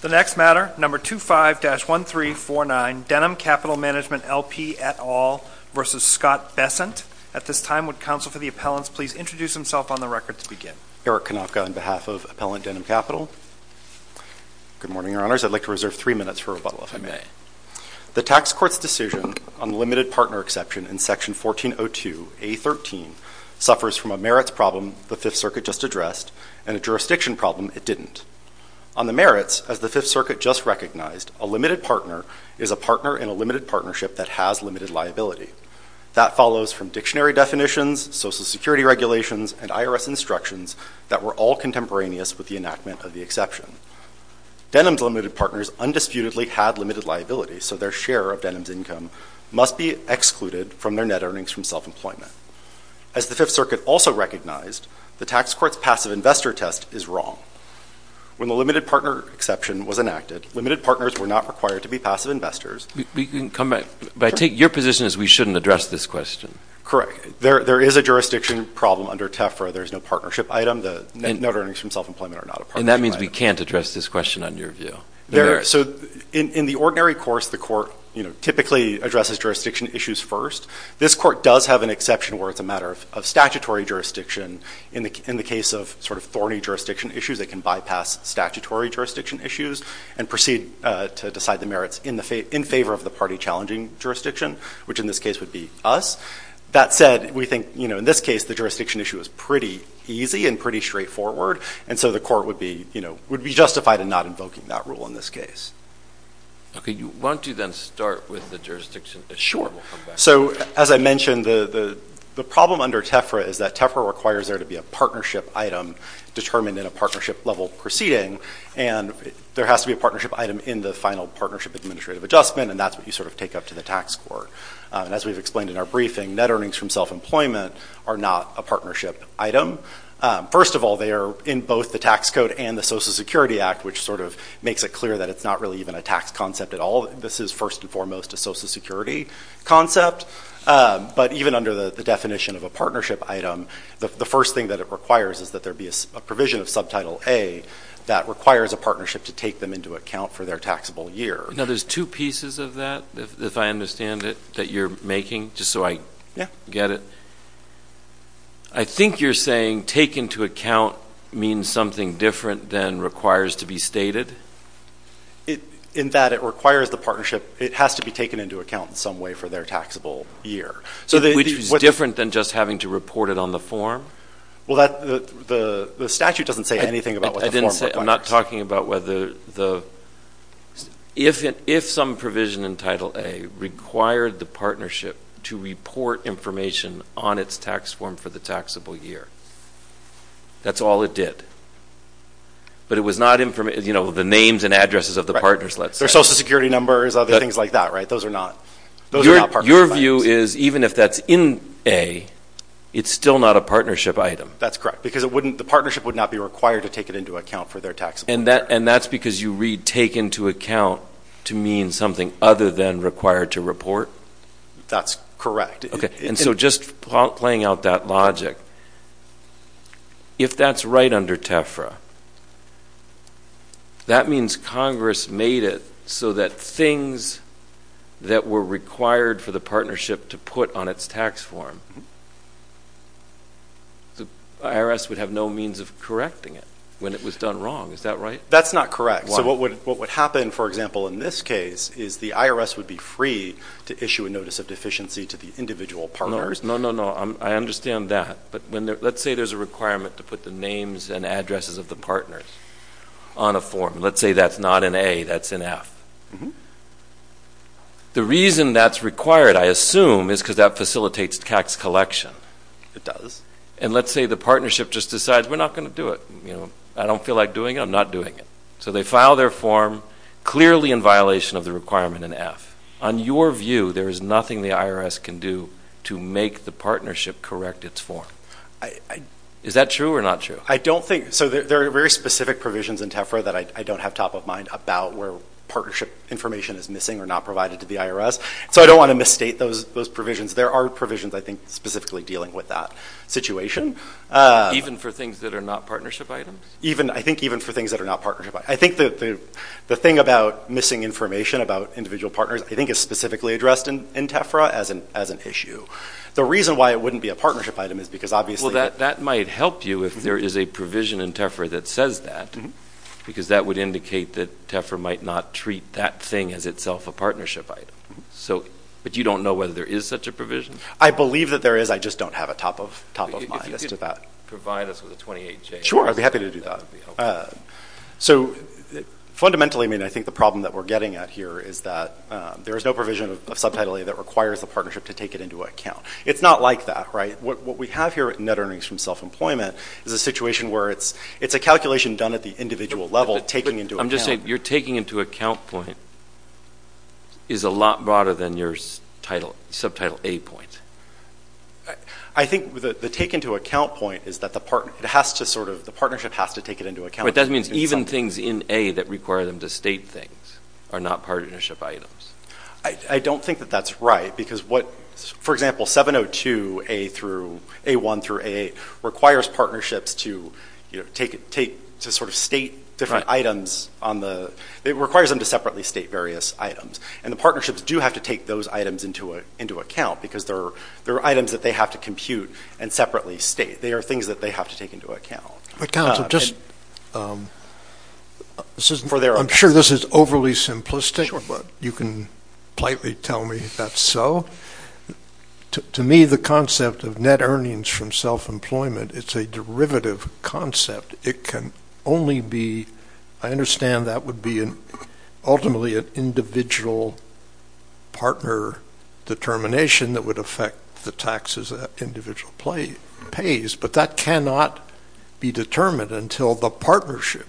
The next matter, No. 25-1349, Denham Capital Management LP et al. v. Scott Bessent. At this time, would counsel for the appellants please introduce themselves on the record to begin. Eric Konofka, on behalf of Appellant Denham Capital. Good morning, Your Honors. I'd like to reserve three minutes for rebuttal, if I may. The Tax Court's decision on the limited partner exception in Section 1402A.13 suffers from a merits problem the Fifth Circuit just addressed and a jurisdiction problem it didn't. On the merits, as the Fifth Circuit just recognized, a limited partner is a partner in a limited partnership that has limited liability. That follows from dictionary definitions, Social Security regulations, and IRS instructions that were all contemporaneous with the enactment of the exception. Denham's limited partners undisputedly had limited liability, so their share of Denham's income must be excluded from their net earnings from self-employment. As the Fifth Circuit also recognized, the Tax Court's passive investor test is wrong. When the limited partner exception was enacted, limited partners were not required to be passive investors. We can come back, but I take your position as we shouldn't address this question. Correct. There is a jurisdiction problem under TEFRA. There is no partnership item. The net earnings from self-employment are not a partnership item. And that means we can't address this question on your view. So in the ordinary course, the Court typically addresses jurisdiction issues first. This Court does have an exception where it's a matter of statutory jurisdiction. In the case of thorny jurisdiction issues, it can bypass statutory jurisdiction issues and proceed to decide the merits in favor of the party challenging jurisdiction, which in this case would be us. That said, we think in this case the jurisdiction issue is pretty easy and pretty straightforward, and so the Court would be justified in not invoking that rule in this case. Okay. Why don't you then start with the jurisdiction issue? Sure. So as I mentioned, the problem under TEFRA is that TEFRA requires there to be a partnership item determined in a partnership-level proceeding, and there has to be a partnership item in the final partnership administrative adjustment, and that's what you sort of take up to the Tax Court. And as we've explained in our briefing, net earnings from self-employment are not a partnership item. First of all, they are in both the tax code and the Social Security Act, which sort of makes it clear that it's not really even a tax concept at all. This is first and foremost a Social Security concept. But even under the definition of a partnership item, the first thing that it requires is that there be a provision of Subtitle A that requires a partnership to take them into account for their taxable year. Now, there's two pieces of that, if I understand it, that you're making, just so I get it. I think you're saying take into account means something different than requires to be stated? In that it requires the partnership. It has to be taken into account in some way for their taxable year. Which is different than just having to report it on the form? Well, the statute doesn't say anything about what the form requires. I'm not talking about whether the – What if some provision in Title A required the partnership to report information on its tax form for the taxable year? That's all it did. But it was not – you know, the names and addresses of the partners, let's say. Their Social Security numbers, other things like that, right? Those are not partnership items. Your view is even if that's in A, it's still not a partnership item. That's correct. Because the partnership would not be required to take it into account for their taxable year. And that's because you read take into account to mean something other than required to report? That's correct. And so just playing out that logic, if that's right under TEFRA, that means Congress made it so that things that were required for the partnership to put on its tax form, the IRS would have no means of correcting it when it was done wrong. Is that right? That's not correct. So what would happen, for example, in this case, is the IRS would be free to issue a notice of deficiency to the individual partners. No, no, no. I understand that. But let's say there's a requirement to put the names and addresses of the partners on a form. Let's say that's not in A, that's in F. The reason that's required, I assume, is because that facilitates tax collection. It does. And let's say the partnership just decides we're not going to do it. I don't feel like doing it. I'm not doing it. So they file their form clearly in violation of the requirement in F. On your view, there is nothing the IRS can do to make the partnership correct its form. Is that true or not true? I don't think so. There are very specific provisions in TEFRA that I don't have top of mind about where partnership information is missing or not provided to the IRS. So I don't want to misstate those provisions. There are provisions, I think, specifically dealing with that situation. Even for things that are not partnership items? I think even for things that are not partnership items. I think the thing about missing information about individual partners, I think, is specifically addressed in TEFRA as an issue. The reason why it wouldn't be a partnership item is because, obviously, Well, that might help you if there is a provision in TEFRA that says that because that would indicate that TEFRA might not treat that thing as itself a partnership item. But you don't know whether there is such a provision? I believe that there is. I just don't have a top of mind as to that. If you could provide us with a 28-J. Sure. I'd be happy to do that. So fundamentally, I mean, I think the problem that we're getting at here is that there is no provision of subtitling that requires the partnership to take it into account. It's not like that, right? What we have here at NetEarnings from Self-Employment is a situation where it's a calculation done at the individual level. I'm just saying your taking into account point is a lot broader than your subtitle A point. I think the take into account point is that the partnership has to take it into account. But that means even things in A that require them to state things are not partnership items. I don't think that that's right. For example, 702A1 through A8 requires partnerships to sort of state different items. It requires them to separately state various items. And the partnerships do have to take those items into account because they're items that they have to compute and separately state. They are things that they have to take into account. I'm sure this is overly simplistic, but you can politely tell me if that's so. To me, the concept of NetEarnings from Self-Employment, it's a derivative concept. It can only be, I understand that would be ultimately an individual partner determination that would affect the taxes that individual pays. But that cannot be determined until the partnership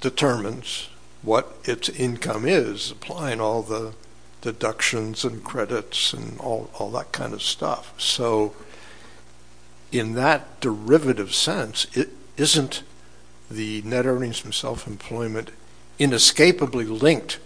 determines what its income is, applying all the deductions and credits and all that kind of stuff. So in that derivative sense, isn't the NetEarnings from Self-Employment inescapably linked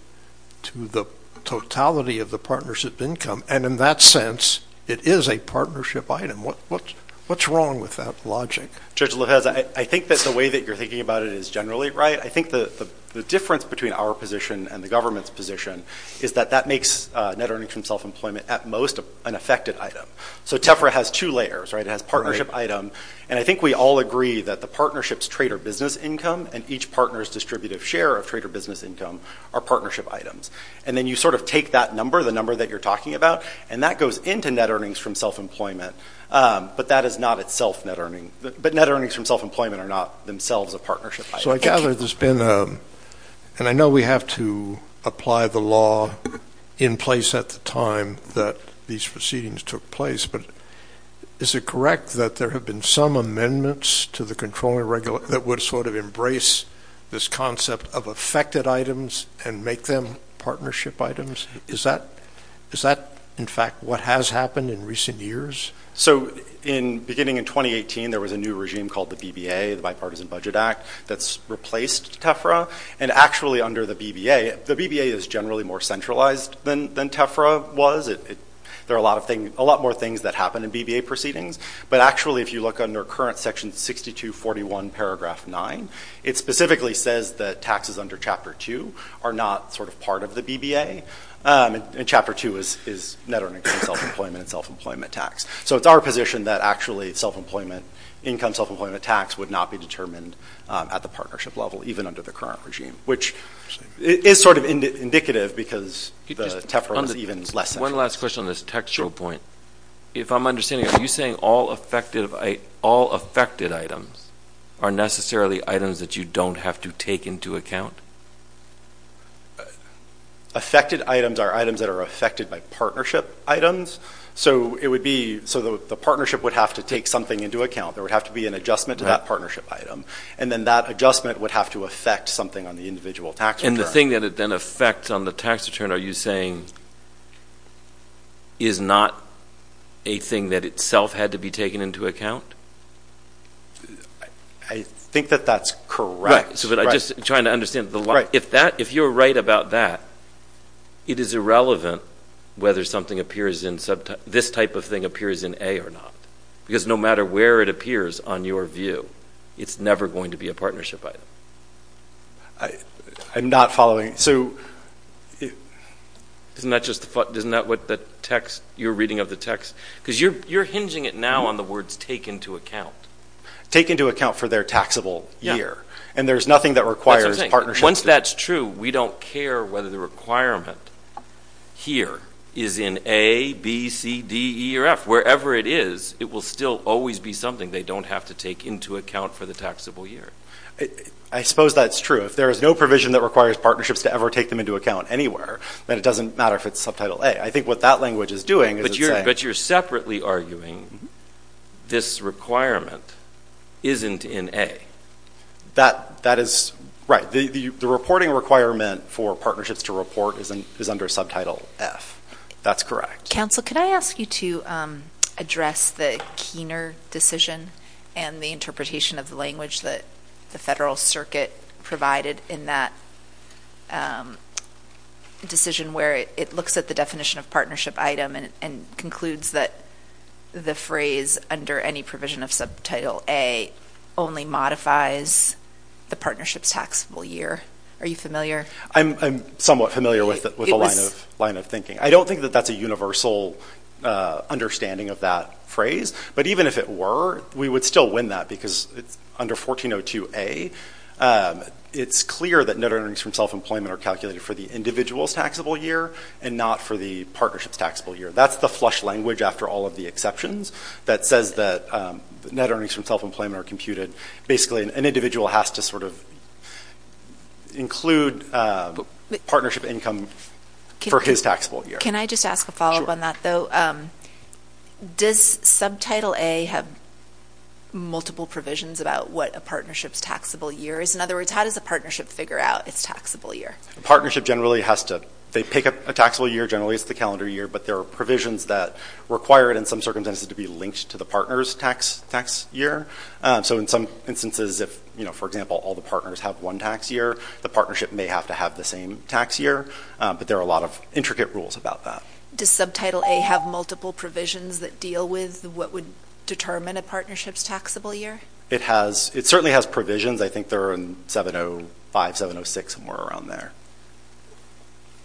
to the totality of the partnership income? And in that sense, it is a partnership item. What's wrong with that logic? Judge Lopez, I think that the way that you're thinking about it is generally right. I think the difference between our position and the government's position is that that makes NetEarnings from Self-Employment at most an affected item. So TEFRA has two layers, right? It has partnership item. And I think we all agree that the partnership's trade or business income and each partner's distributive share of trade or business income are partnership items. And then you sort of take that number, the number that you're talking about, and that goes into NetEarnings from Self-Employment. But that is not itself NetEarnings. But NetEarnings from Self-Employment are not themselves a partnership item. So I gather there's been a – and I know we have to apply the law in place at the time that these proceedings took place. But is it correct that there have been some amendments to the Controlling Regulations that would sort of embrace this concept of affected items and make them partnership items? Is that, in fact, what has happened in recent years? So beginning in 2018, there was a new regime called the BBA, the Bipartisan Budget Act, that's replaced TEFRA. And actually, under the BBA – the BBA is generally more centralized than TEFRA was. There are a lot more things that happen in BBA proceedings. But actually, if you look under current Section 6241, Paragraph 9, it specifically says that taxes under Chapter 2 are not sort of part of the BBA. And Chapter 2 is NetEarnings from Self-Employment and Self-Employment tax. So it's our position that actually income Self-Employment tax would not be determined at the partnership level, even under the current regime, which is sort of indicative because the TEFRA was even less. One last question on this textual point. If I'm understanding it, are you saying all affected items are necessarily items that you don't have to take into account? Affected items are items that are affected by partnership items. So it would be – so the partnership would have to take something into account. There would have to be an adjustment to that partnership item. And then that adjustment would have to affect something on the individual tax return. The thing that it then affects on the tax return, are you saying, is not a thing that itself had to be taken into account? I think that that's correct. Right. So I'm just trying to understand. Right. If you're right about that, it is irrelevant whether something appears in – this type of thing appears in A or not. Because no matter where it appears on your view, it's never going to be a partnership item. I'm not following. Isn't that just the – isn't that what the text – your reading of the text – because you're hinging it now on the words take into account. Take into account for their taxable year. Yeah. And there's nothing that requires partnership. Once that's true, we don't care whether the requirement here is in A, B, C, D, E, or F. Wherever it is, it will still always be something they don't have to take into account for the taxable year. I suppose that's true. If there is no provision that requires partnerships to ever take them into account anywhere, then it doesn't matter if it's subtitle A. I think what that language is doing is it's saying – But you're separately arguing this requirement isn't in A. That is – right. The reporting requirement for partnerships to report is under subtitle F. That's correct. Counsel, could I ask you to address the Keener decision and the interpretation of the language that the Federal Circuit provided in that decision where it looks at the definition of partnership item and concludes that the phrase under any provision of subtitle A only modifies the partnership's taxable year. Are you familiar? I'm somewhat familiar with the line of thinking. I don't think that that's a universal understanding of that phrase. But even if it were, we would still win that because it's under 1402A. It's clear that net earnings from self-employment are calculated for the individual's taxable year and not for the partnership's taxable year. That's the flush language after all of the exceptions that says that net earnings from self-employment are computed. Basically, an individual has to sort of include partnership income for his taxable year. Can I just ask a follow-up on that, though? Does subtitle A have multiple provisions about what a partnership's taxable year is? In other words, how does a partnership figure out its taxable year? A partnership generally has to – they pick a taxable year. Generally, it's the calendar year. But there are provisions that require it in some circumstances to be linked to the partner's tax year. So in some instances, if, for example, all the partners have one tax year, the partnership may have to have the same tax year. But there are a lot of intricate rules about that. Does subtitle A have multiple provisions that deal with what would determine a partnership's taxable year? It certainly has provisions. I think they're in 705, 706, somewhere around there.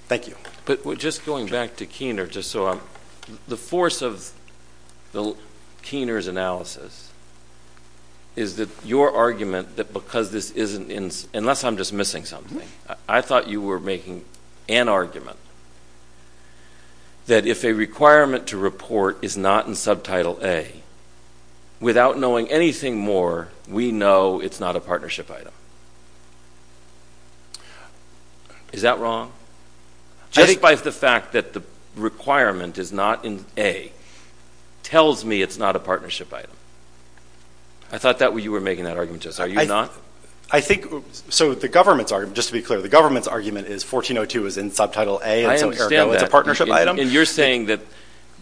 Thank you. But just going back to Keener, just so I'm – the force of Keener's analysis is that your argument that because this isn't – unless I'm just missing something, I thought you were making an argument that if a requirement to report is not in subtitle A, without knowing anything more, we know it's not a partnership item. Is that wrong? Just by the fact that the requirement is not in A tells me it's not a partnership item. I thought you were making that argument just now. Are you not? I think – so the government's argument – just to be clear, the government's argument is 1402 is in subtitle A. I understand that. It's a partnership item. And you're saying that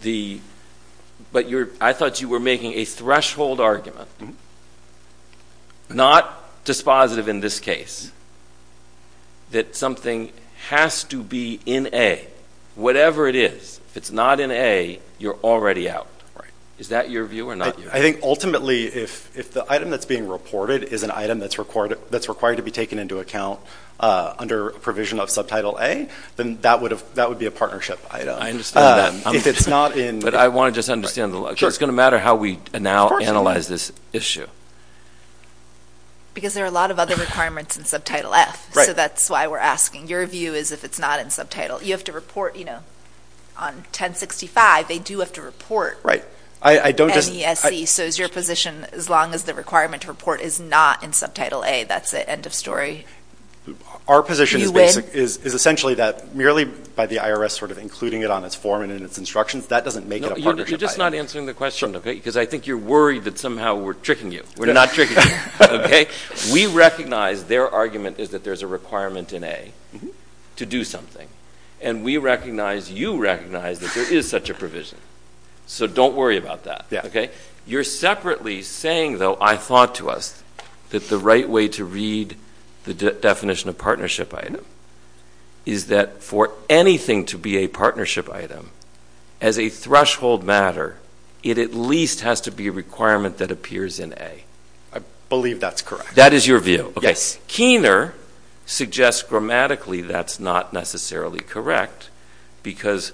the – but I thought you were making a threshold argument, not dispositive in this case, that something has to be in A, whatever it is. If it's not in A, you're already out. Is that your view or not? I think ultimately if the item that's being reported is an item that's required to be taken into account under provision of subtitle A, then that would be a partnership item. I understand that. If it's not in – But I want to just understand the – it's going to matter how we now analyze this issue. Because there are a lot of other requirements in subtitle F. Right. So that's why we're asking. Your view is if it's not in subtitle – you have to report, you know, on 1065, they do have to report. Right. I don't just – So is your position, as long as the requirement to report is not in subtitle A, that's it, end of story? Our position is essentially that merely by the IRS sort of including it on its form and in its instructions, that doesn't make it a partnership item. You're just not answering the question, okay? Because I think you're worried that somehow we're tricking you. We're not tricking you, okay? We recognize their argument is that there's a requirement in A to do something. And we recognize, you recognize, that there is such a provision. So don't worry about that, okay? You're separately saying, though, I thought to us, that the right way to read the definition of partnership item is that for anything to be a partnership item, as a threshold matter, it at least has to be a requirement that appears in A. I believe that's correct. That is your view? Yes. Keener suggests grammatically that's not necessarily correct because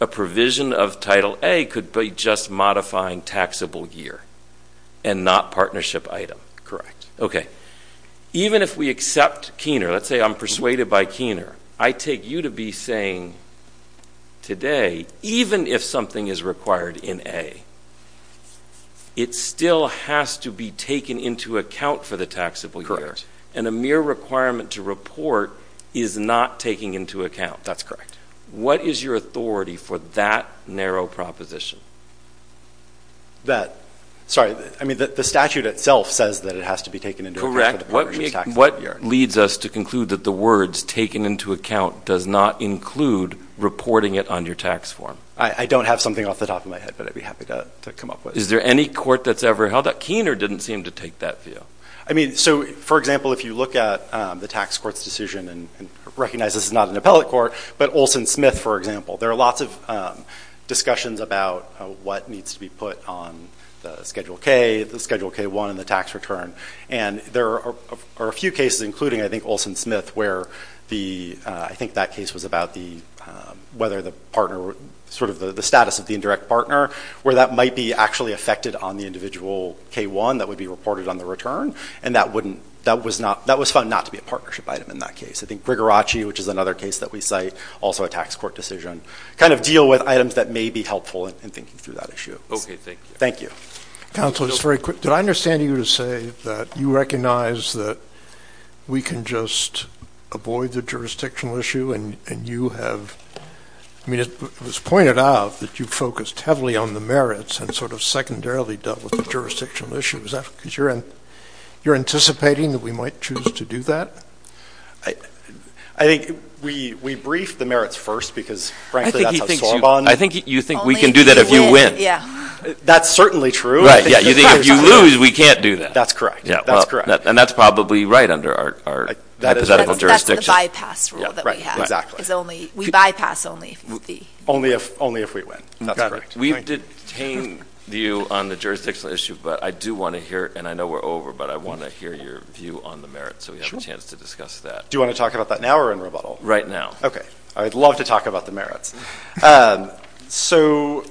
a provision of Title A could be just modifying taxable year and not partnership item. Okay. Even if we accept Keener, let's say I'm persuaded by Keener, I take you to be saying today, even if something is required in A, it still has to be taken into account for the taxable year. And a mere requirement to report is not taking into account. That's correct. What is your authority for that narrow proposition? That, sorry, I mean the statute itself says that it has to be taken into account for the partnership taxable year. What leads us to conclude that the words taken into account does not include reporting it on your tax form? I don't have something off the top of my head, but I'd be happy to come up with it. Is there any court that's ever held that Keener didn't seem to take that view? I mean, so, for example, if you look at the tax court's decision and recognize this is not an appellate court, but Olson Smith, for example, there are lots of discussions about what needs to be put on the Schedule K, the Schedule K-1, and the tax return. And there are a few cases, including, I think, Olson Smith, where the, I think that case was about the, whether the partner, sort of the status of the indirect partner, where that might be actually affected on the individual K-1 that would be reported on the return. And that wouldn't, that was not, that was found not to be a partnership item in that case. I think Grigoracci, which is another case that we cite, also a tax court decision, kind of deal with items that may be helpful in thinking through that issue. Okay, thank you. Thank you. Counsel, just very quick. Did I understand you to say that you recognize that we can just avoid the jurisdictional issue and you have, I mean, it was pointed out that you focused heavily on the merits and sort of secondarily dealt with the jurisdictional issues. Is that because you're anticipating that we might choose to do that? I think we briefed the merits first because, frankly, that's how SOAR bonded. I think you think we can do that if you win. Yeah. That's certainly true. Right, yeah. You think if you lose, we can't do that. That's correct. That's correct. And that's probably right under our hypothetical jurisdiction. That's the bypass rule that we have. Exactly. Because only, we bypass only if we win. Only if we win. That's correct. We've detained you on the jurisdictional issue, but I do want to hear, and I know we're over, but I want to hear your view on the merits so we have a chance to discuss that. Sure. Do you want to talk about that now or in rebuttal? Right now. Okay. I'd love to talk about the merits. So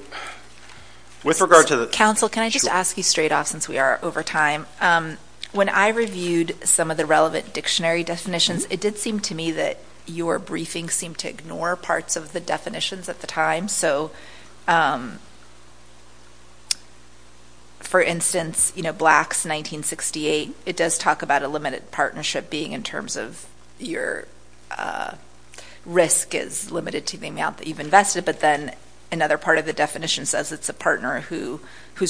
with regard to the- Counsel, can I just ask you straight off since we are over time? When I reviewed some of the relevant dictionary definitions, it did seem to me that your briefing seemed to ignore parts of the definitions at the time. So, for instance, you know, Blacks 1968, it does talk about a limited partnership being in terms of your risk is limited to the amount that you've invested, but then another part of the definition says it's a partner whose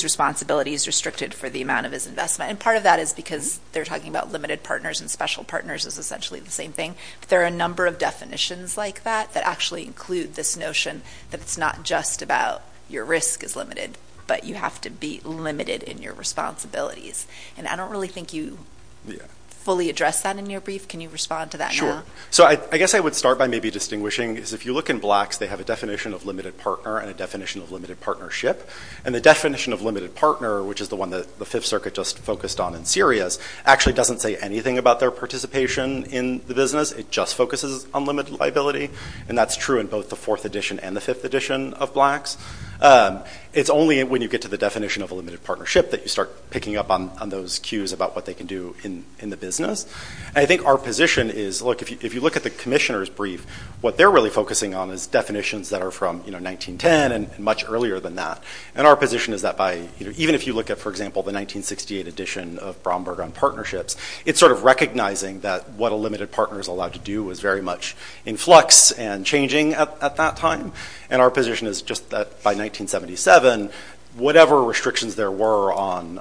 responsibility is restricted for the amount of his investment. And part of that is because they're talking about limited partners and special partners is essentially the same thing. But there are a number of definitions like that that actually include this notion that it's not just about your risk is limited, but you have to be limited in your responsibilities. And I don't really think you fully addressed that in your brief. Can you respond to that now? So I guess I would start by maybe distinguishing is if you look in Blacks, they have a definition of limited partner and a definition of limited partnership. And the definition of limited partner, which is the one that the Fifth Circuit just focused on in Syria, actually doesn't say anything about their participation in the business. It just focuses on limited liability. And that's true in both the Fourth Edition and the Fifth Edition of Blacks. It's only when you get to the definition of a limited partnership that you start picking up on those cues about what they can do in the business. And I think our position is, look, if you look at the Commissioner's brief, what they're really focusing on is definitions that are from 1910 and much earlier than that. And our position is that even if you look at, for example, the 1968 edition of Bromberg on partnerships, it's sort of recognizing that what a limited partner is allowed to do is very much in flux and changing at that time. And our position is just that by 1977, whatever restrictions there were on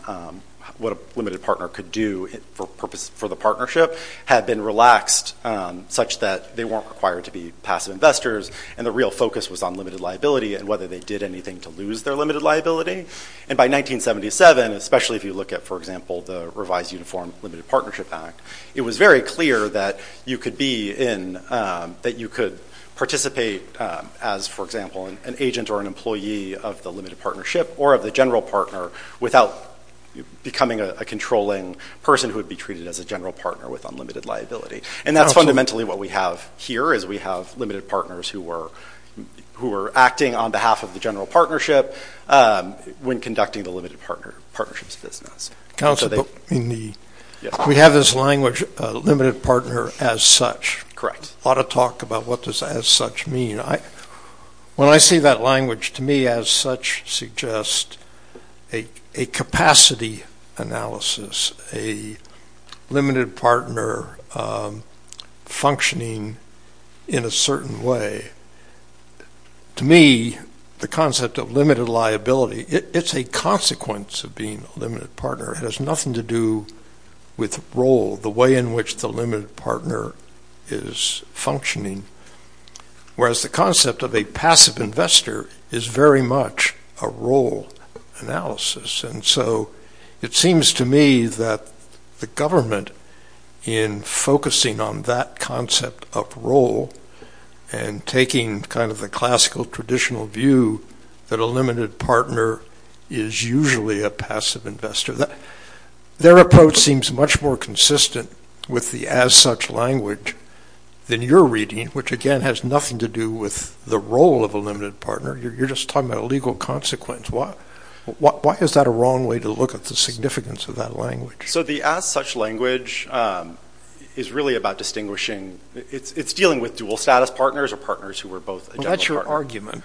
what a limited partner could do for the partnership had been relaxed, such that they weren't required to be passive investors, and the real focus was on limited liability and whether they did anything to lose their limited liability. And by 1977, especially if you look at, for example, the revised Uniform Limited Partnership Act, it was very clear that you could participate as, for example, an agent or an employee of the limited partnership or of the general partner without becoming a controlling person who would be treated as a general partner with unlimited liability. And that's fundamentally what we have here, is we have limited partners who are acting on behalf of the general partnership when conducting the limited partnerships business. We have this language, limited partner as such. A lot of talk about what does as such mean. When I see that language, to me as such suggests a capacity analysis, a limited partner functioning in a certain way. To me, the concept of limited liability, it's a consequence of being a limited partner. It has nothing to do with role, the way in which the limited partner is functioning. Whereas the concept of a passive investor is very much a role analysis. And so it seems to me that the government, in focusing on that concept of role and taking kind of the classical traditional view that a limited partner is usually a passive investor, their approach seems much more consistent with the as such language than your reading, which again has nothing to do with the role of a limited partner. You're just talking about a legal consequence. Why is that a wrong way to look at the significance of that language? So the as such language is really about distinguishing. It's dealing with dual status partners or partners who are both a general partner. Well, that's your argument.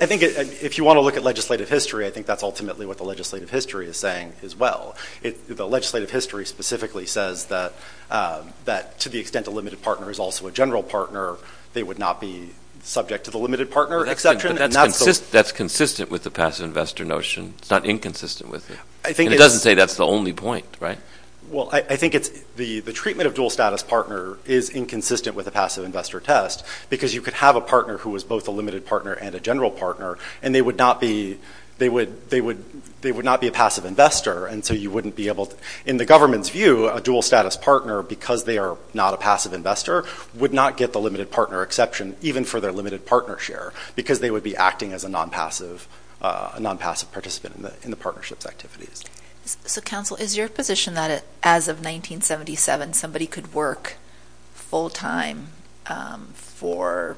I think if you want to look at legislative history, I think that's ultimately what the legislative history is saying as well. The legislative history specifically says that to the extent a limited partner is also a general partner, they would not be subject to the limited partner exception. That's consistent with the passive investor notion. It's not inconsistent with it. It doesn't say that's the only point, right? Well, I think the treatment of dual status partner is inconsistent with the passive investor test because you could have a partner who was both a limited partner and a general partner and they would not be a passive investor. And so you wouldn't be able to, in the government's view, a dual status partner, because they are not a passive investor, would not get the limited partner exception even for their limited partner share because they would be acting as a non-passive participant in the partnership's activities. So, counsel, is your position that as of 1977, somebody could work full-time for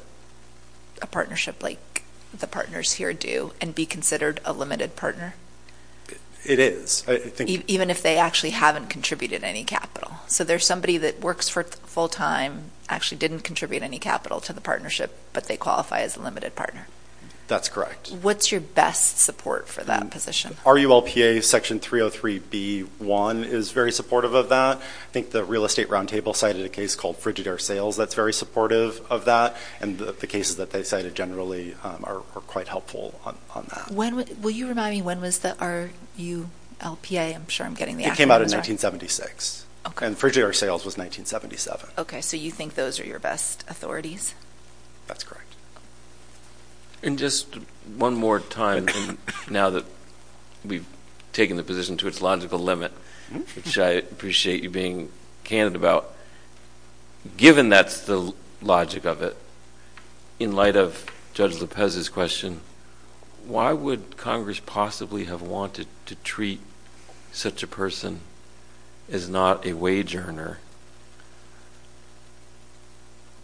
a partnership like the partners here do and be considered a limited partner? It is. Even if they actually haven't contributed any capital. So there's somebody that works full-time, actually didn't contribute any capital to the partnership, but they qualify as a limited partner? That's correct. What's your best support for that position? RULPA Section 303b-1 is very supportive of that. I think the Real Estate Roundtable cited a case called Frigidaire Sales that's very supportive of that, and the cases that they cited generally are quite helpful on that. Will you remind me when was the RULPA? I'm sure I'm getting the acronyms right. It came out in 1976. And Frigidaire Sales was 1977. Okay. So you think those are your best authorities? That's correct. And just one more time, now that we've taken the position to its logical limit, which I appreciate you being candid about, given that's the logic of it, in light of Judge Lopez's question, why would Congress possibly have wanted to treat such a person as not a wage earner,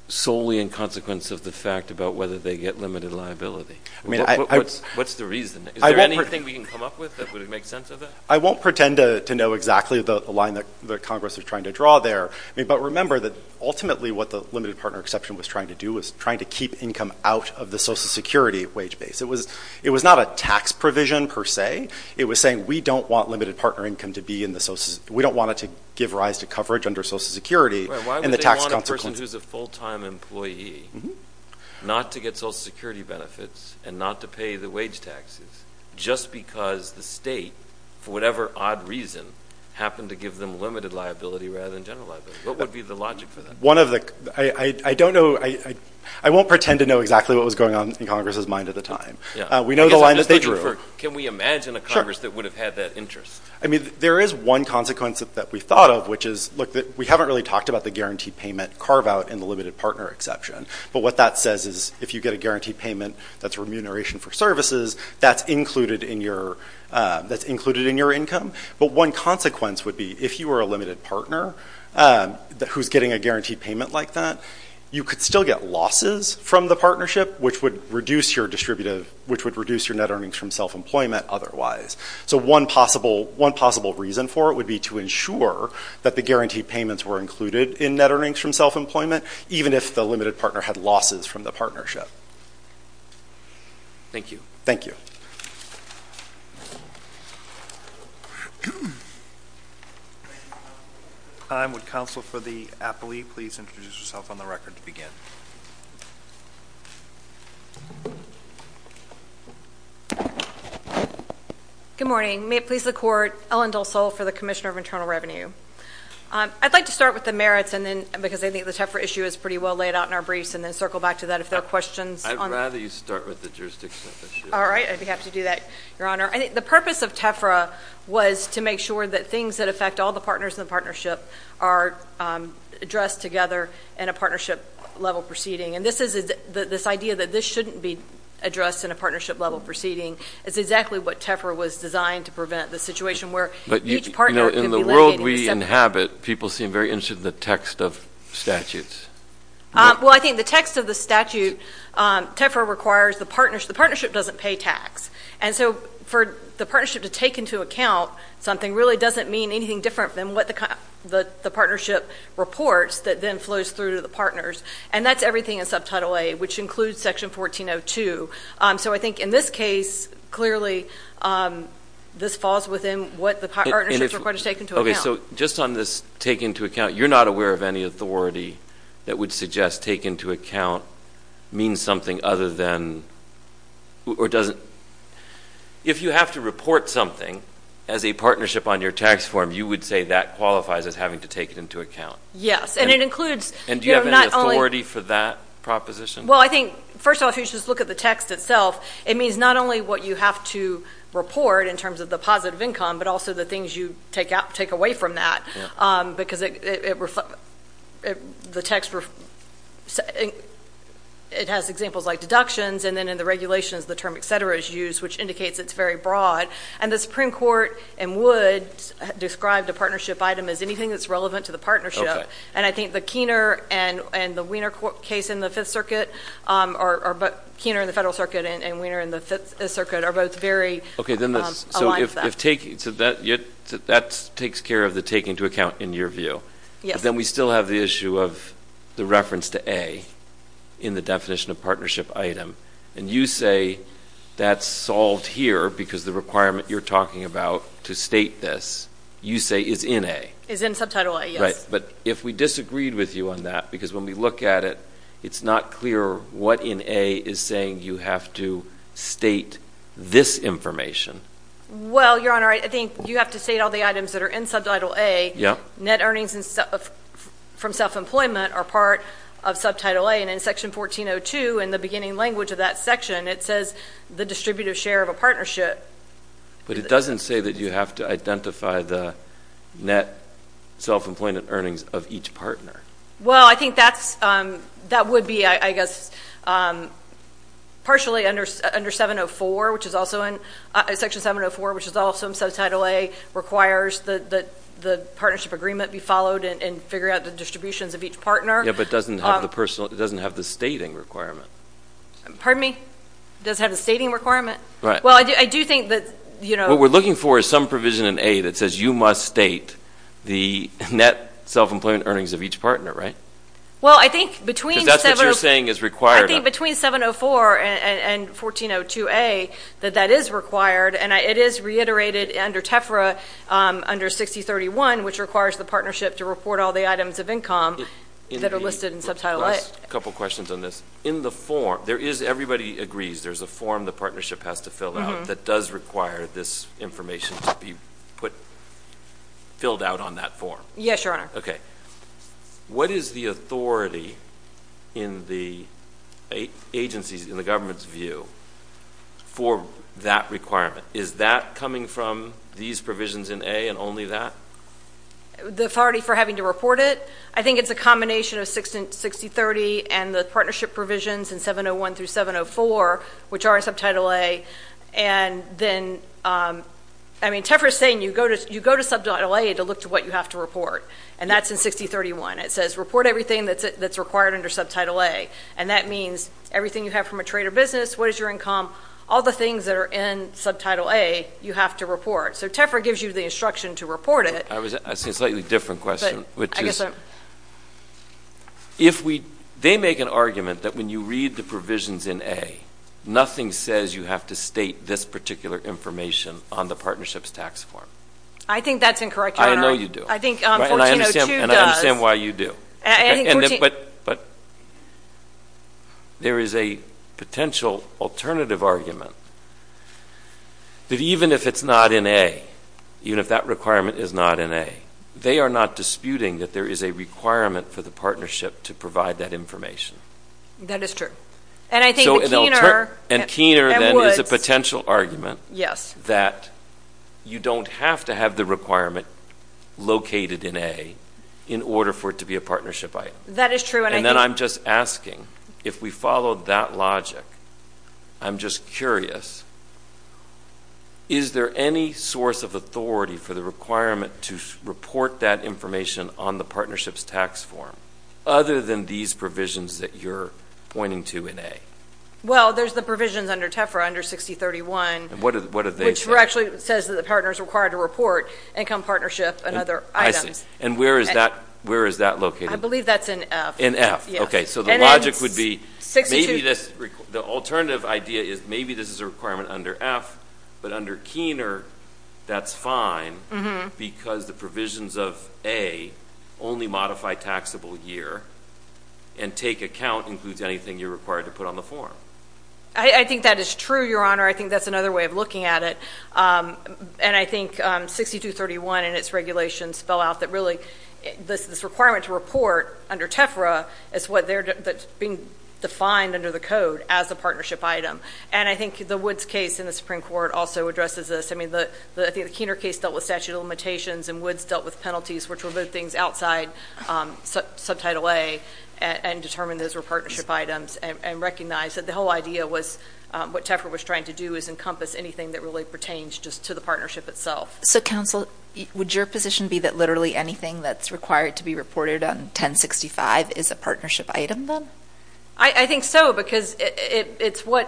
solely in consequence of the fact about whether they get limited liability? What's the reason? Is there anything we can come up with that would make sense of that? I won't pretend to know exactly the line that Congress is trying to draw there, but remember that ultimately what the limited partner exception was trying to do was trying to keep income out of the Social Security wage base. It was not a tax provision per se. It was saying we don't want limited partner income to be in the Social Security. We don't want it to give rise to coverage under Social Security. Why would they want a person who's a full-time employee not to get Social Security benefits and not to pay the wage taxes just because the state, for whatever odd reason, happened to give them limited liability rather than general liability? What would be the logic for that? I don't know. I won't pretend to know exactly what was going on in Congress's mind at the time. We know the line that they drew. Can we imagine a Congress that would have had that interest? There is one consequence that we thought of, which is we haven't really talked about the guaranteed payment carve-out in the limited partner exception, but what that says is if you get a guaranteed payment that's remuneration for services, that's included in your income. But one consequence would be if you were a limited partner who's getting a guaranteed payment like that, you could still get losses from the partnership, which would reduce your net earnings from self-employment otherwise. So one possible reason for it would be to ensure that the guaranteed payments were included in net earnings from self-employment, even if the limited partner had losses from the partnership. Thank you. Thank you. Thank you. Would counsel for the appellee please introduce yourself on the record to begin? Good morning. May it please the Court, Ellen Dulsole for the Commissioner of Internal Revenue. I'd like to start with the merits because I think the TEFRA issue is pretty well laid out in our briefs and then circle back to that if there are questions. I'd rather you start with the jurisdiction issue. All right. I'd be happy to do that, Your Honor. The purpose of TEFRA was to make sure that things that affect all the partners in the partnership are addressed together in a partnership-level proceeding. And this idea that this shouldn't be addressed in a partnership-level proceeding is exactly what TEFRA was designed to prevent, the situation where each partner could be limited. In the world we inhabit, people seem very interested in the text of statutes. Well, I think the text of the statute, TEFRA requires the partnership. The partnership doesn't pay tax. And so for the partnership to take into account something really doesn't mean anything different than what the partnership reports that then flows through to the partners. And that's everything in Subtitle A, which includes Section 1402. So I think in this case, clearly this falls within what the partnership is going to take into account. Okay. So just on this take into account, you're not aware of any authority that would suggest take into account means something other than or doesn't. If you have to report something as a partnership on your tax form, you would say that qualifies as having to take it into account. Yes. And it includes not only And do you have any authority for that proposition? Well, I think, first of all, if you just look at the text itself, it means not only what you have to report in terms of the positive income, but also the things you take away from that because it has examples like deductions, and then in the regulations the term et cetera is used, which indicates it's very broad. And the Supreme Court in Woods described a partnership item as anything that's relevant to the partnership. And I think the Keener and the Weiner case in the Fifth Circuit are both very aligned with that. Okay. So that takes care of the take into account in your view. Yes. But then we still have the issue of the reference to A in the definition of partnership item. And you say that's solved here because the requirement you're talking about to state this, you say, is in A. Is in subtitle A, yes. Right. But if we disagreed with you on that because when we look at it, it's not clear what in A is saying you have to state this information. Well, Your Honor, I think you have to state all the items that are in subtitle A. Yes. Net earnings from self-employment are part of subtitle A. And in Section 1402, in the beginning language of that section, it says the distributive share of a partnership. But it doesn't say that you have to identify the net self-employment earnings of each partner. Well, I think that would be, I guess, partially under 704, which is also in Section 704, which is also in subtitle A, requires that the partnership agreement be followed and figure out the distributions of each partner. Yes, but it doesn't have the stating requirement. Pardon me? It doesn't have the stating requirement? Right. Well, I do think that, you know. What we're looking for is some provision in A that says you must state the net self-employment earnings of each partner, right? Well, I think between 704 and 1402A that that is required, and it is reiterated under TEFRA under 6031, which requires the partnership to report all the items of income that are listed in subtitle A. Last couple questions on this. In the form, everybody agrees there's a form the partnership has to fill out that does require this information to be filled out on that form. Yes, Your Honor. Okay. What is the authority in the government's view for that requirement? Is that coming from these provisions in A and only that? The authority for having to report it? I think it's a combination of 6030 and the partnership provisions in 701 through 704, which are in subtitle A, and then, I mean, to look to what you have to report, and that's in 6031. It says report everything that's required under subtitle A, and that means everything you have from a trade or business, what is your income, all the things that are in subtitle A you have to report. So TEFRA gives you the instruction to report it. I was asking a slightly different question, which is if we – they make an argument that when you read the provisions in A, nothing says you have to state this particular information on the partnership's tax form. I think that's incorrect, Your Honor. I know you do. I think 1402 does. And I understand why you do. But there is a potential alternative argument that even if it's not in A, even if that requirement is not in A, they are not disputing that there is a requirement for the partnership to provide that information. That is true. And I think the keener – And keener then is a potential argument that you don't have to have the requirement located in A in order for it to be a partnership item. That is true, and I think – And then I'm just asking, if we follow that logic, I'm just curious, is there any source of authority for the requirement to report that information on the partnership's tax form other than these provisions that you're pointing to in A? Well, there's the provisions under TEFRA, under 6031. What do they say? Which actually says that the partner is required to report income partnership and other items. I see. And where is that located? I believe that's in F. In F. Okay. So the logic would be maybe this – the alternative idea is maybe this is a requirement under F, but under keener, that's fine because the provisions of A only modify taxable year and take account includes anything you're required to put on the form. I think that is true, Your Honor. I think that's another way of looking at it. And I think 6231 and its regulations spell out that really this requirement to report under TEFRA is what's being defined under the code as a partnership item. And I think the Woods case in the Supreme Court also addresses this. I mean, I think the keener case dealt with statute of limitations and Woods dealt with penalties which were both things outside subtitle A and determined those were partnership items and recognized that the whole idea was what TEFRA was trying to do is encompass anything that really pertains just to the partnership itself. So, counsel, would your position be that literally anything that's required to be reported on 1065 is a partnership item then? I think so because it's what,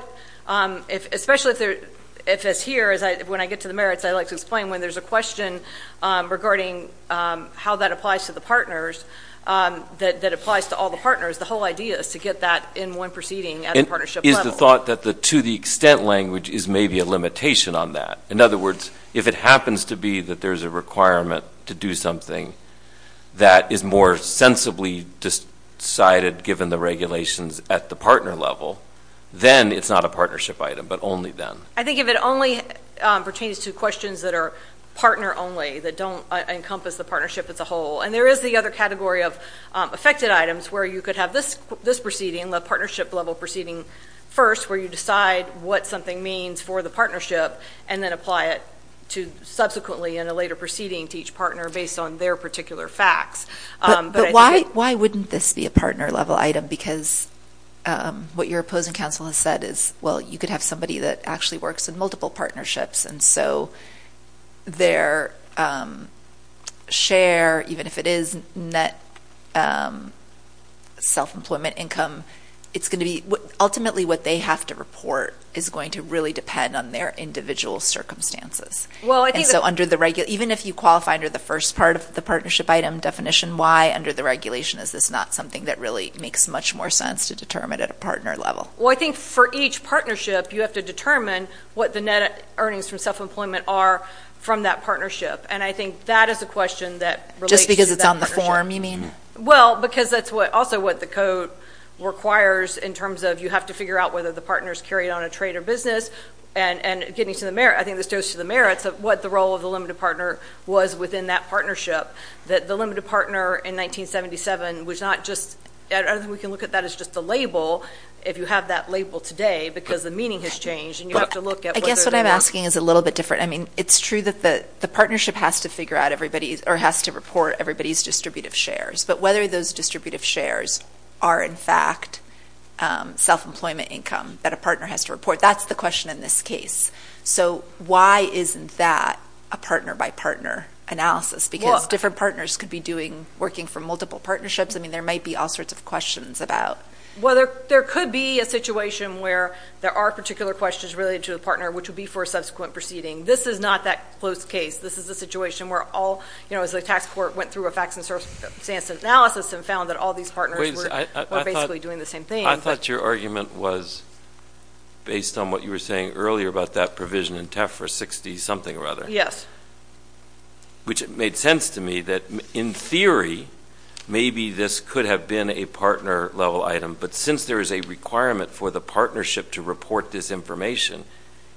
especially if it's here, when I get to the merits I like to explain when there's a question regarding how that applies to the partners, that applies to all the partners, the whole idea is to get that in one proceeding at a partnership level. Is the thought that the to the extent language is maybe a limitation on that? In other words, if it happens to be that there's a requirement to do something that is more sensibly decided given the regulations at the partner level, then it's not a partnership item but only then. I think if it only pertains to questions that are partner only, that don't encompass the partnership as a whole, and there is the other category of affected items where you could have this proceeding, the partnership level proceeding first, where you decide what something means for the partnership and then apply it to subsequently in a later proceeding to each partner based on their particular facts. But why wouldn't this be a partner level item? Because what your opposing counsel has said is, well, you could have somebody that actually works in multiple partnerships and so their share, even if it is net self-employment income, ultimately what they have to report is going to really depend on their individual circumstances. Even if you qualify under the first part of the partnership item definition, why under the regulation is this not something that really makes much more sense to determine at a partner level? Well, I think for each partnership you have to determine what the net earnings from self-employment are from that partnership, and I think that is a question that relates to that partnership. Just because it's on the form you mean? Well, because that's also what the code requires in terms of you have to figure out whether the partner's carried on a trade or business. I think this goes to the merits of what the role of the limited partner was within that partnership, that the limited partner in 1977 was not just – I don't think we can look at that as just a label, if you have that label today, because the meaning has changed and you have to look at whether – I guess what I'm asking is a little bit different. I mean, it's true that the partnership has to figure out everybody's or has to report everybody's distributive shares, but whether those distributive shares are in fact self-employment income that a partner has to report, that's the question in this case. So why isn't that a partner-by-partner analysis? Because different partners could be working for multiple partnerships. I mean, there might be all sorts of questions about – Well, there could be a situation where there are particular questions related to a partner, which would be for a subsequent proceeding. This is not that close case. This is a situation where all – as the tax court went through a facts and circumstances analysis and found that all these partners were basically doing the same thing. I thought your argument was based on what you were saying earlier about that provision in TEFRA 60-something or other. Yes. Which made sense to me that, in theory, maybe this could have been a partner-level item, but since there is a requirement for the partnership to report this information,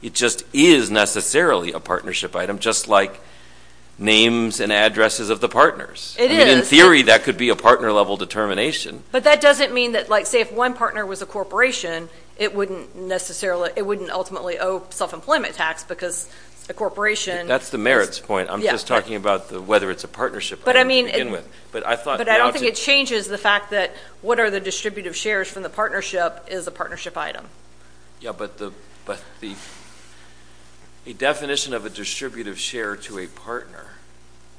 it just is necessarily a partnership item, just like names and addresses of the partners. It is. I mean, in theory, that could be a partner-level determination. But that doesn't mean that, say, if one partner was a corporation, it wouldn't ultimately owe self-employment tax because a corporation is – That's the merits point. I'm just talking about whether it's a partnership item to begin with. But I don't think it changes the fact that what are the distributive shares from the partnership is a partnership item. Yes, but the definition of a distributive share to a partner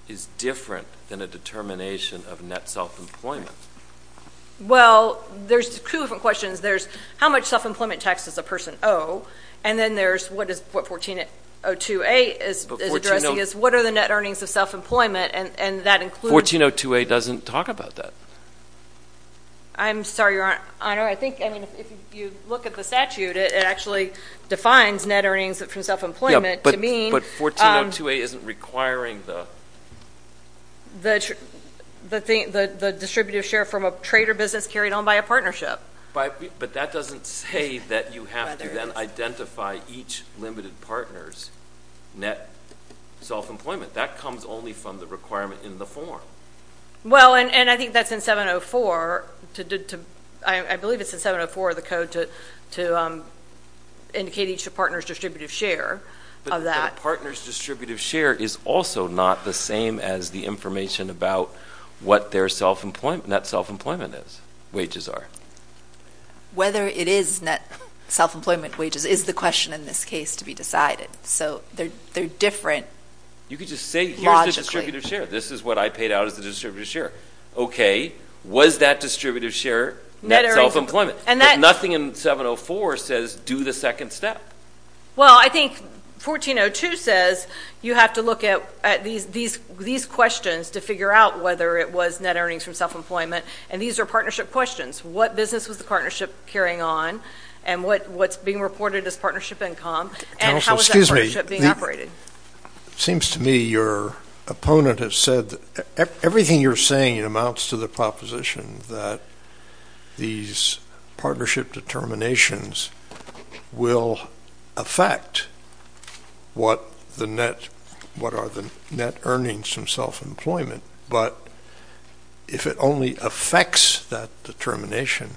is different than a determination of net self-employment. Well, there's two different questions. There's how much self-employment tax does a person owe, and then there's what 1402A is addressing is what are the net earnings of self-employment, and that includes – 1402A doesn't talk about that. I'm sorry, Your Honor. I think, I mean, if you look at the statute, it actually defines net earnings from self-employment to mean – 1402A isn't requiring the – The distributive share from a trade or business carried on by a partnership. But that doesn't say that you have to then identify each limited partner's net self-employment. That comes only from the requirement in the form. Well, and I think that's in 704. I believe it's in 704 of the code to indicate each partner's distributive share of that. But that partner's distributive share is also not the same as the information about what their net self-employment wages are. Whether it is net self-employment wages is the question in this case to be decided. So they're different logically. You could just say here's the distributive share. This is what I paid out as the distributive share. Okay, was that distributive share net self-employment? And that – But nothing in 704 says do the second step. Well, I think 1402 says you have to look at these questions to figure out whether it was net earnings from self-employment. And these are partnership questions. What business was the partnership carrying on? And what's being reported as partnership income? And how is that partnership being operated? It seems to me your opponent has said everything you're saying amounts to the proposition that these partnership determinations will affect what are the net earnings from self-employment. But if it only affects that determination,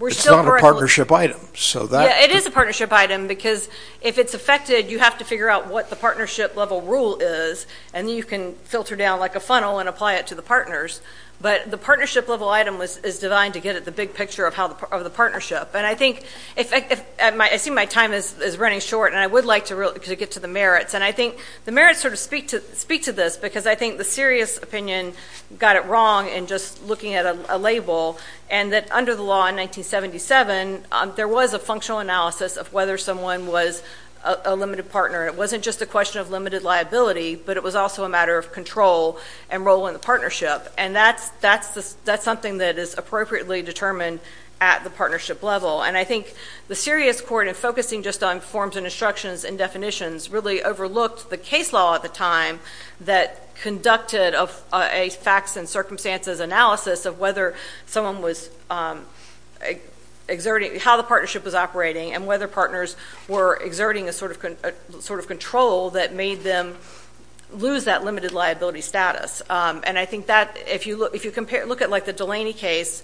it's not a partnership item. Yeah, it is a partnership item because if it's affected, you have to figure out what the partnership level rule is, and then you can filter down like a funnel and apply it to the partners. But the partnership level item is divine to get at the big picture of the partnership. And I think – I see my time is running short, and I would like to get to the merits. And I think the merits sort of speak to this because I think the serious opinion got it wrong in just looking at a label and that under the law in 1977, there was a functional analysis of whether someone was a limited partner. It wasn't just a question of limited liability, but it was also a matter of control and role in the partnership. And that's something that is appropriately determined at the partnership level. And I think the serious court in focusing just on forms and instructions and definitions really overlooked the case law at the time that conducted a facts and circumstances analysis of whether someone was exerting – how the partnership was operating and whether partners were exerting a sort of control that made them lose that limited liability status. And I think that – if you compare – look at like the Delaney case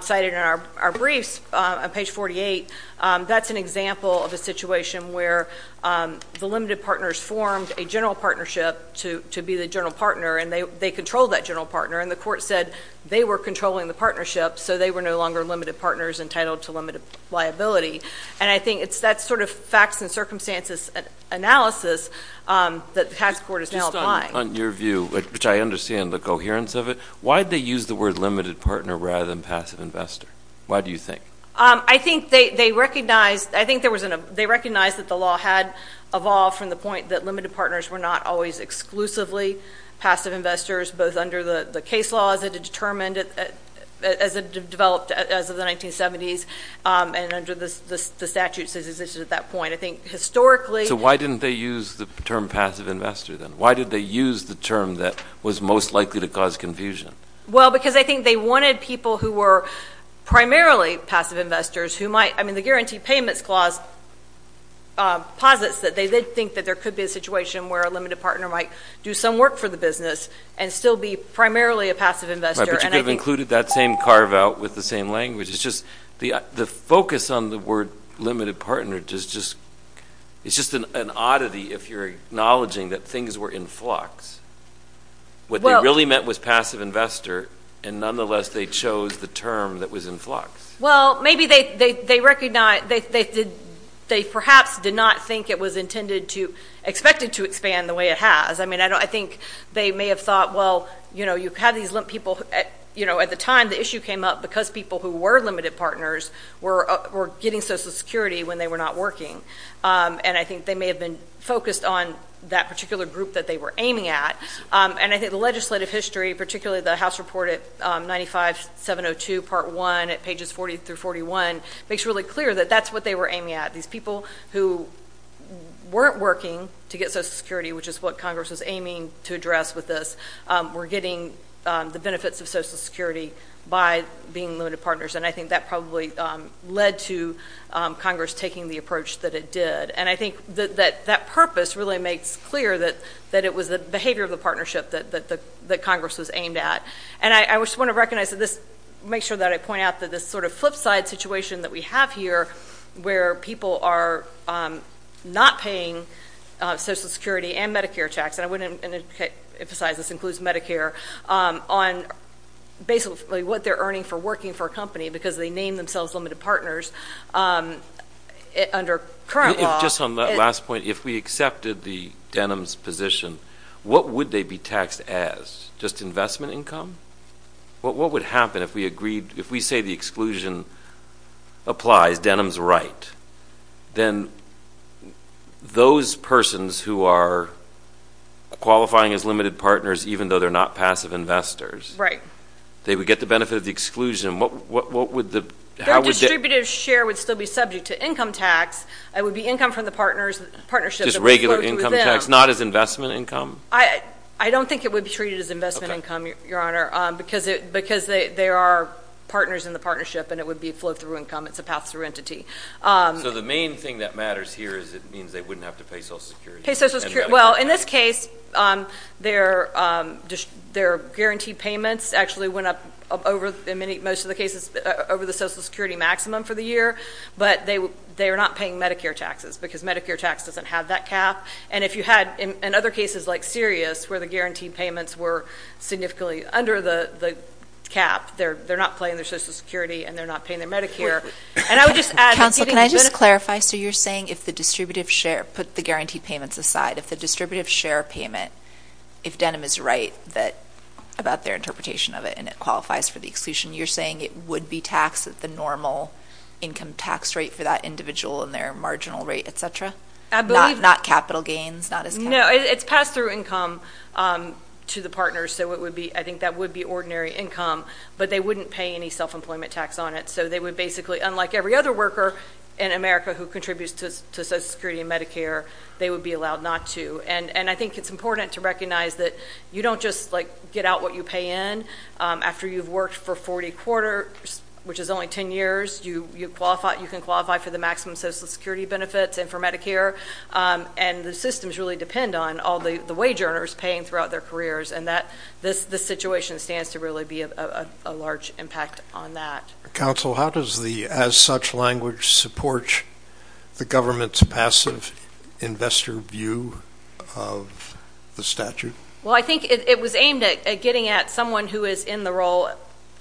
cited in our briefs on page 48, that's an example of a situation where the limited partners formed a general partnership to be the general partner, and they controlled that general partner. And the court said they were controlling the partnership, so they were no longer limited partners entitled to limited liability. And I think it's that sort of facts and circumstances analysis that the tax court is now applying. Just on your view, which I understand the coherence of it, why did they use the word limited partner rather than passive investor? Why do you think? I think they recognized that the law had evolved from the point that limited partners were not always exclusively passive investors, both under the case law as it had developed as of the 1970s and under the statutes that existed at that point. I think historically – So why didn't they use the term passive investor then? Why did they use the term that was most likely to cause confusion? Well, because I think they wanted people who were primarily passive investors who might – I mean, the Guarantee Payments Clause posits that they did think that there could be a situation where a limited partner might do some work for the business and still be primarily a passive investor. But you could have included that same carve-out with the same language. It's just the focus on the word limited partner is just an oddity if you're acknowledging that things were in flux. What they really meant was passive investor, and nonetheless they chose the term that was in flux. Well, maybe they recognize – they perhaps did not think it was intended to – expected to expand the way it has. I mean, I think they may have thought, well, you know, you have these people – you know, at the time the issue came up because people who were limited partners were getting Social Security when they were not working. And I think they may have been focused on that particular group that they were aiming at. And I think the legislative history, particularly the House Report at 95702 Part 1 at pages 40 through 41, makes it really clear that that's what they were aiming at. These people who weren't working to get Social Security, which is what Congress was aiming to address with this, were getting the benefits of Social Security by being limited partners. And I think that probably led to Congress taking the approach that it did. And I think that that purpose really makes clear that it was the behavior of the partnership that Congress was aimed at. And I just want to recognize that this – make sure that I point out that this sort of flip side situation that we have here where people are not paying Social Security and Medicare tax – and I want to emphasize this includes Medicare – on basically what they're earning for working for a company because they name themselves limited partners under current law. Just on that last point, if we accepted the Denham's position, what would they be taxed as? Just investment income? What would happen if we agreed – if we say the exclusion applies, Denham's right, then those persons who are qualifying as limited partners, even though they're not passive investors, they would get the benefit of the exclusion. What would the – how would – Their distributive share would still be subject to income tax. It would be income from the partnership that would flow to them. Income tax, not as investment income? I don't think it would be treated as investment income, Your Honor, because there are partners in the partnership, and it would be flow-through income. It's a path-through entity. So the main thing that matters here is it means they wouldn't have to pay Social Security. Pay Social Security. Well, in this case, their guaranteed payments actually went up over – in most of the cases over the Social Security maximum for the year, but they are not paying Medicare taxes because Medicare tax doesn't have that cap. And if you had, in other cases like Sirius, where the guaranteed payments were significantly under the cap, they're not paying their Social Security and they're not paying their Medicare. And I would just add – Counsel, can I just clarify? So you're saying if the distributive share – put the guaranteed payments aside. If the distributive share payment, if Denham is right about their interpretation of it and it qualifies for the exclusion, you're saying it would be taxed at the normal income tax rate for that individual and their marginal rate, et cetera? I believe – Not capital gains? No, it's pass-through income to the partners. So I think that would be ordinary income, but they wouldn't pay any self-employment tax on it. So they would basically, unlike every other worker in America who contributes to Social Security and Medicare, they would be allowed not to. And I think it's important to recognize that you don't just get out what you pay in. After you've worked for 40 quarters, which is only 10 years, you can qualify for the maximum Social Security benefits and for Medicare, and the systems really depend on all the wage earners paying throughout their careers, and this situation stands to really be a large impact on that. Counsel, how does the as-such language support the government's passive investor view of the statute? Well, I think it was aimed at getting at someone who is in the role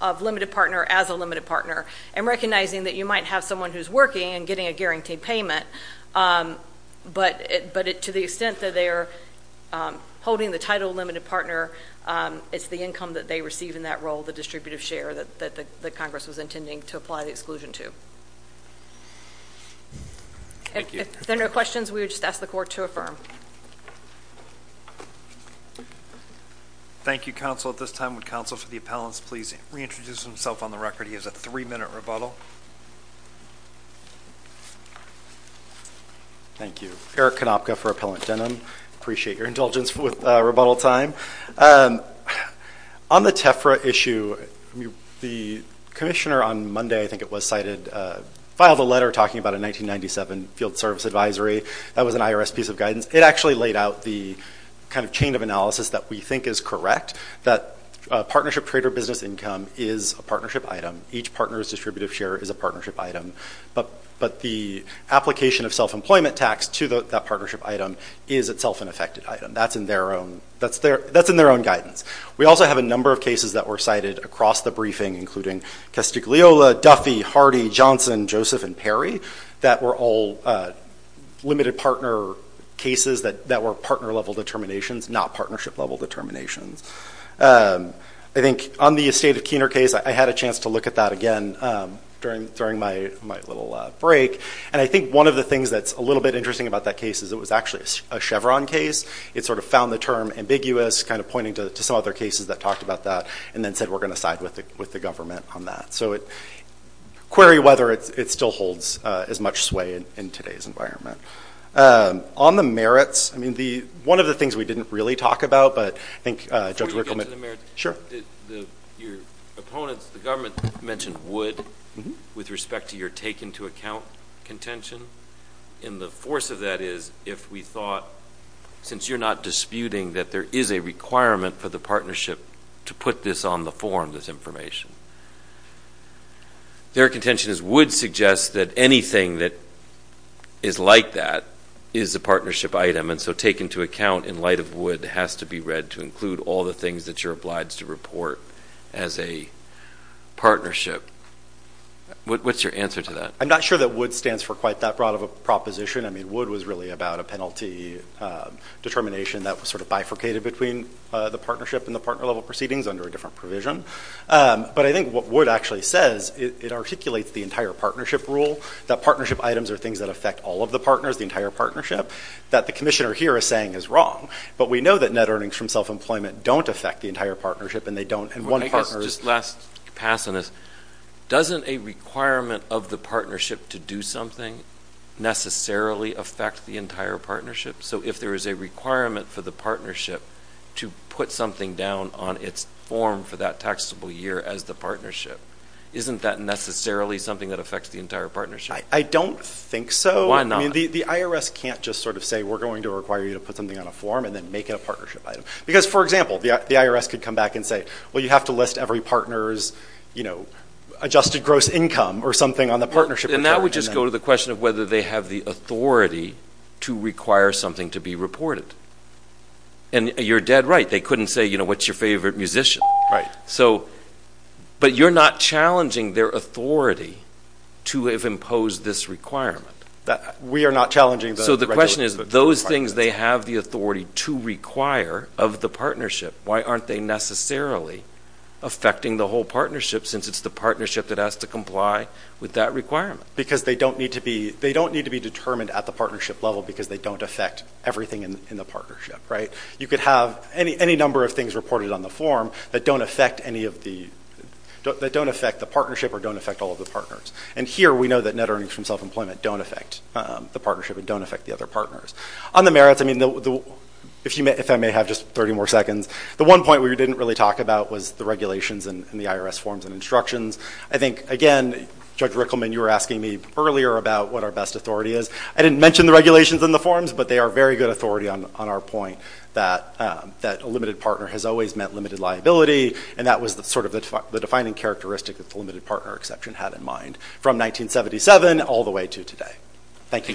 of limited partner as a limited partner and recognizing that you might have someone who's working and getting a guaranteed payment, but to the extent that they are holding the title of limited partner, it's the income that they receive in that role, the distributive share, that Congress was intending to apply the exclusion to. Thank you. If there are no questions, we would just ask the Court to affirm. Thank you, Counsel. At this time, would Counsel for the Appellants please reintroduce himself on the record? He has a three-minute rebuttal. Thank you. Eric Konopka for Appellant Denim. I appreciate your indulgence with rebuttal time. On the TEFRA issue, the Commissioner on Monday, I think it was, filed a letter talking about a 1997 field service advisory. That was an IRS piece of guidance. It actually laid out the kind of chain of analysis that we think is correct, that partnership trader business income is a partnership item. Each partner's distributive share is a partnership item, but the application of self-employment tax to that partnership item is itself an affected item. That's in their own guidance. We also have a number of cases that were cited across the briefing, including Castigliola, Duffy, Hardy, Johnson, Joseph, and Perry, that were all limited partner cases that were partner-level determinations, not partnership-level determinations. I think on the estate of Keener case, I had a chance to look at that again during my little break, and I think one of the things that's a little bit interesting about that case is it was actually a Chevron case. It sort of found the term ambiguous, kind of pointing to some other cases that talked about that, and then said we're going to side with the government on that. So query whether it still holds as much sway in today's environment. On the merits, I mean, one of the things we didn't really talk about, but I think Judge Rickleman. Before you get to the merits, your opponents, the government, mentioned would with respect to your take-into-account contention, and the force of that is if we thought, since you're not disputing that there is a requirement for the partnership to put this on the form, this information, their contention is would suggest that anything that is like that is a partnership item, and so take-into-account in light of would has to be read to include all the things that you're obliged to report as a partnership. What's your answer to that? I'm not sure that would stands for quite that broad of a proposition. I mean, would was really about a penalty determination that was sort of bifurcated between the partnership and the partner-level proceedings under a different provision. But I think what would actually says, it articulates the entire partnership rule, that partnership items are things that affect all of the partners, the entire partnership, that the commissioner here is saying is wrong. But we know that net earnings from self-employment don't affect the entire partnership, and they don't, and one partner is. Just to pass on this, doesn't a requirement of the partnership to do something necessarily affect the entire partnership? So if there is a requirement for the partnership to put something down on its form for that taxable year as the partnership, isn't that necessarily something that affects the entire partnership? I don't think so. Why not? I mean, the IRS can't just sort of say we're going to require you to put something on a form and then make it a partnership item. Because, for example, the IRS could come back and say, well, you have to list every partner's, you know, adjusted gross income or something on the partnership. And that would just go to the question of whether they have the authority to require something to be reported. And you're dead right. They couldn't say, you know, what's your favorite musician? Right. So, but you're not challenging their authority to have imposed this requirement. We are not challenging the regulatory requirements. So the question is, those things they have the authority to require of the partnership, why aren't they necessarily affecting the whole partnership since it's the partnership that has to comply with that requirement? Because they don't need to be determined at the partnership level because they don't affect everything in the partnership. Right? You could have any number of things reported on the form that don't affect the partnership or don't affect all of the partners. And here we know that net earnings from self-employment don't affect the partnership and don't affect the other partners. On the merits, I mean, if I may have just 30 more seconds, the one point we didn't really talk about was the regulations and the IRS forms and instructions. I think, again, Judge Rickleman, you were asking me earlier about what our best authority is. I didn't mention the regulations and the forms, but they are very good authority on our point that a limited partner has always meant limited liability, and that was sort of the defining characteristic that the limited partner exception had in mind from 1977 all the way to today. Thank you.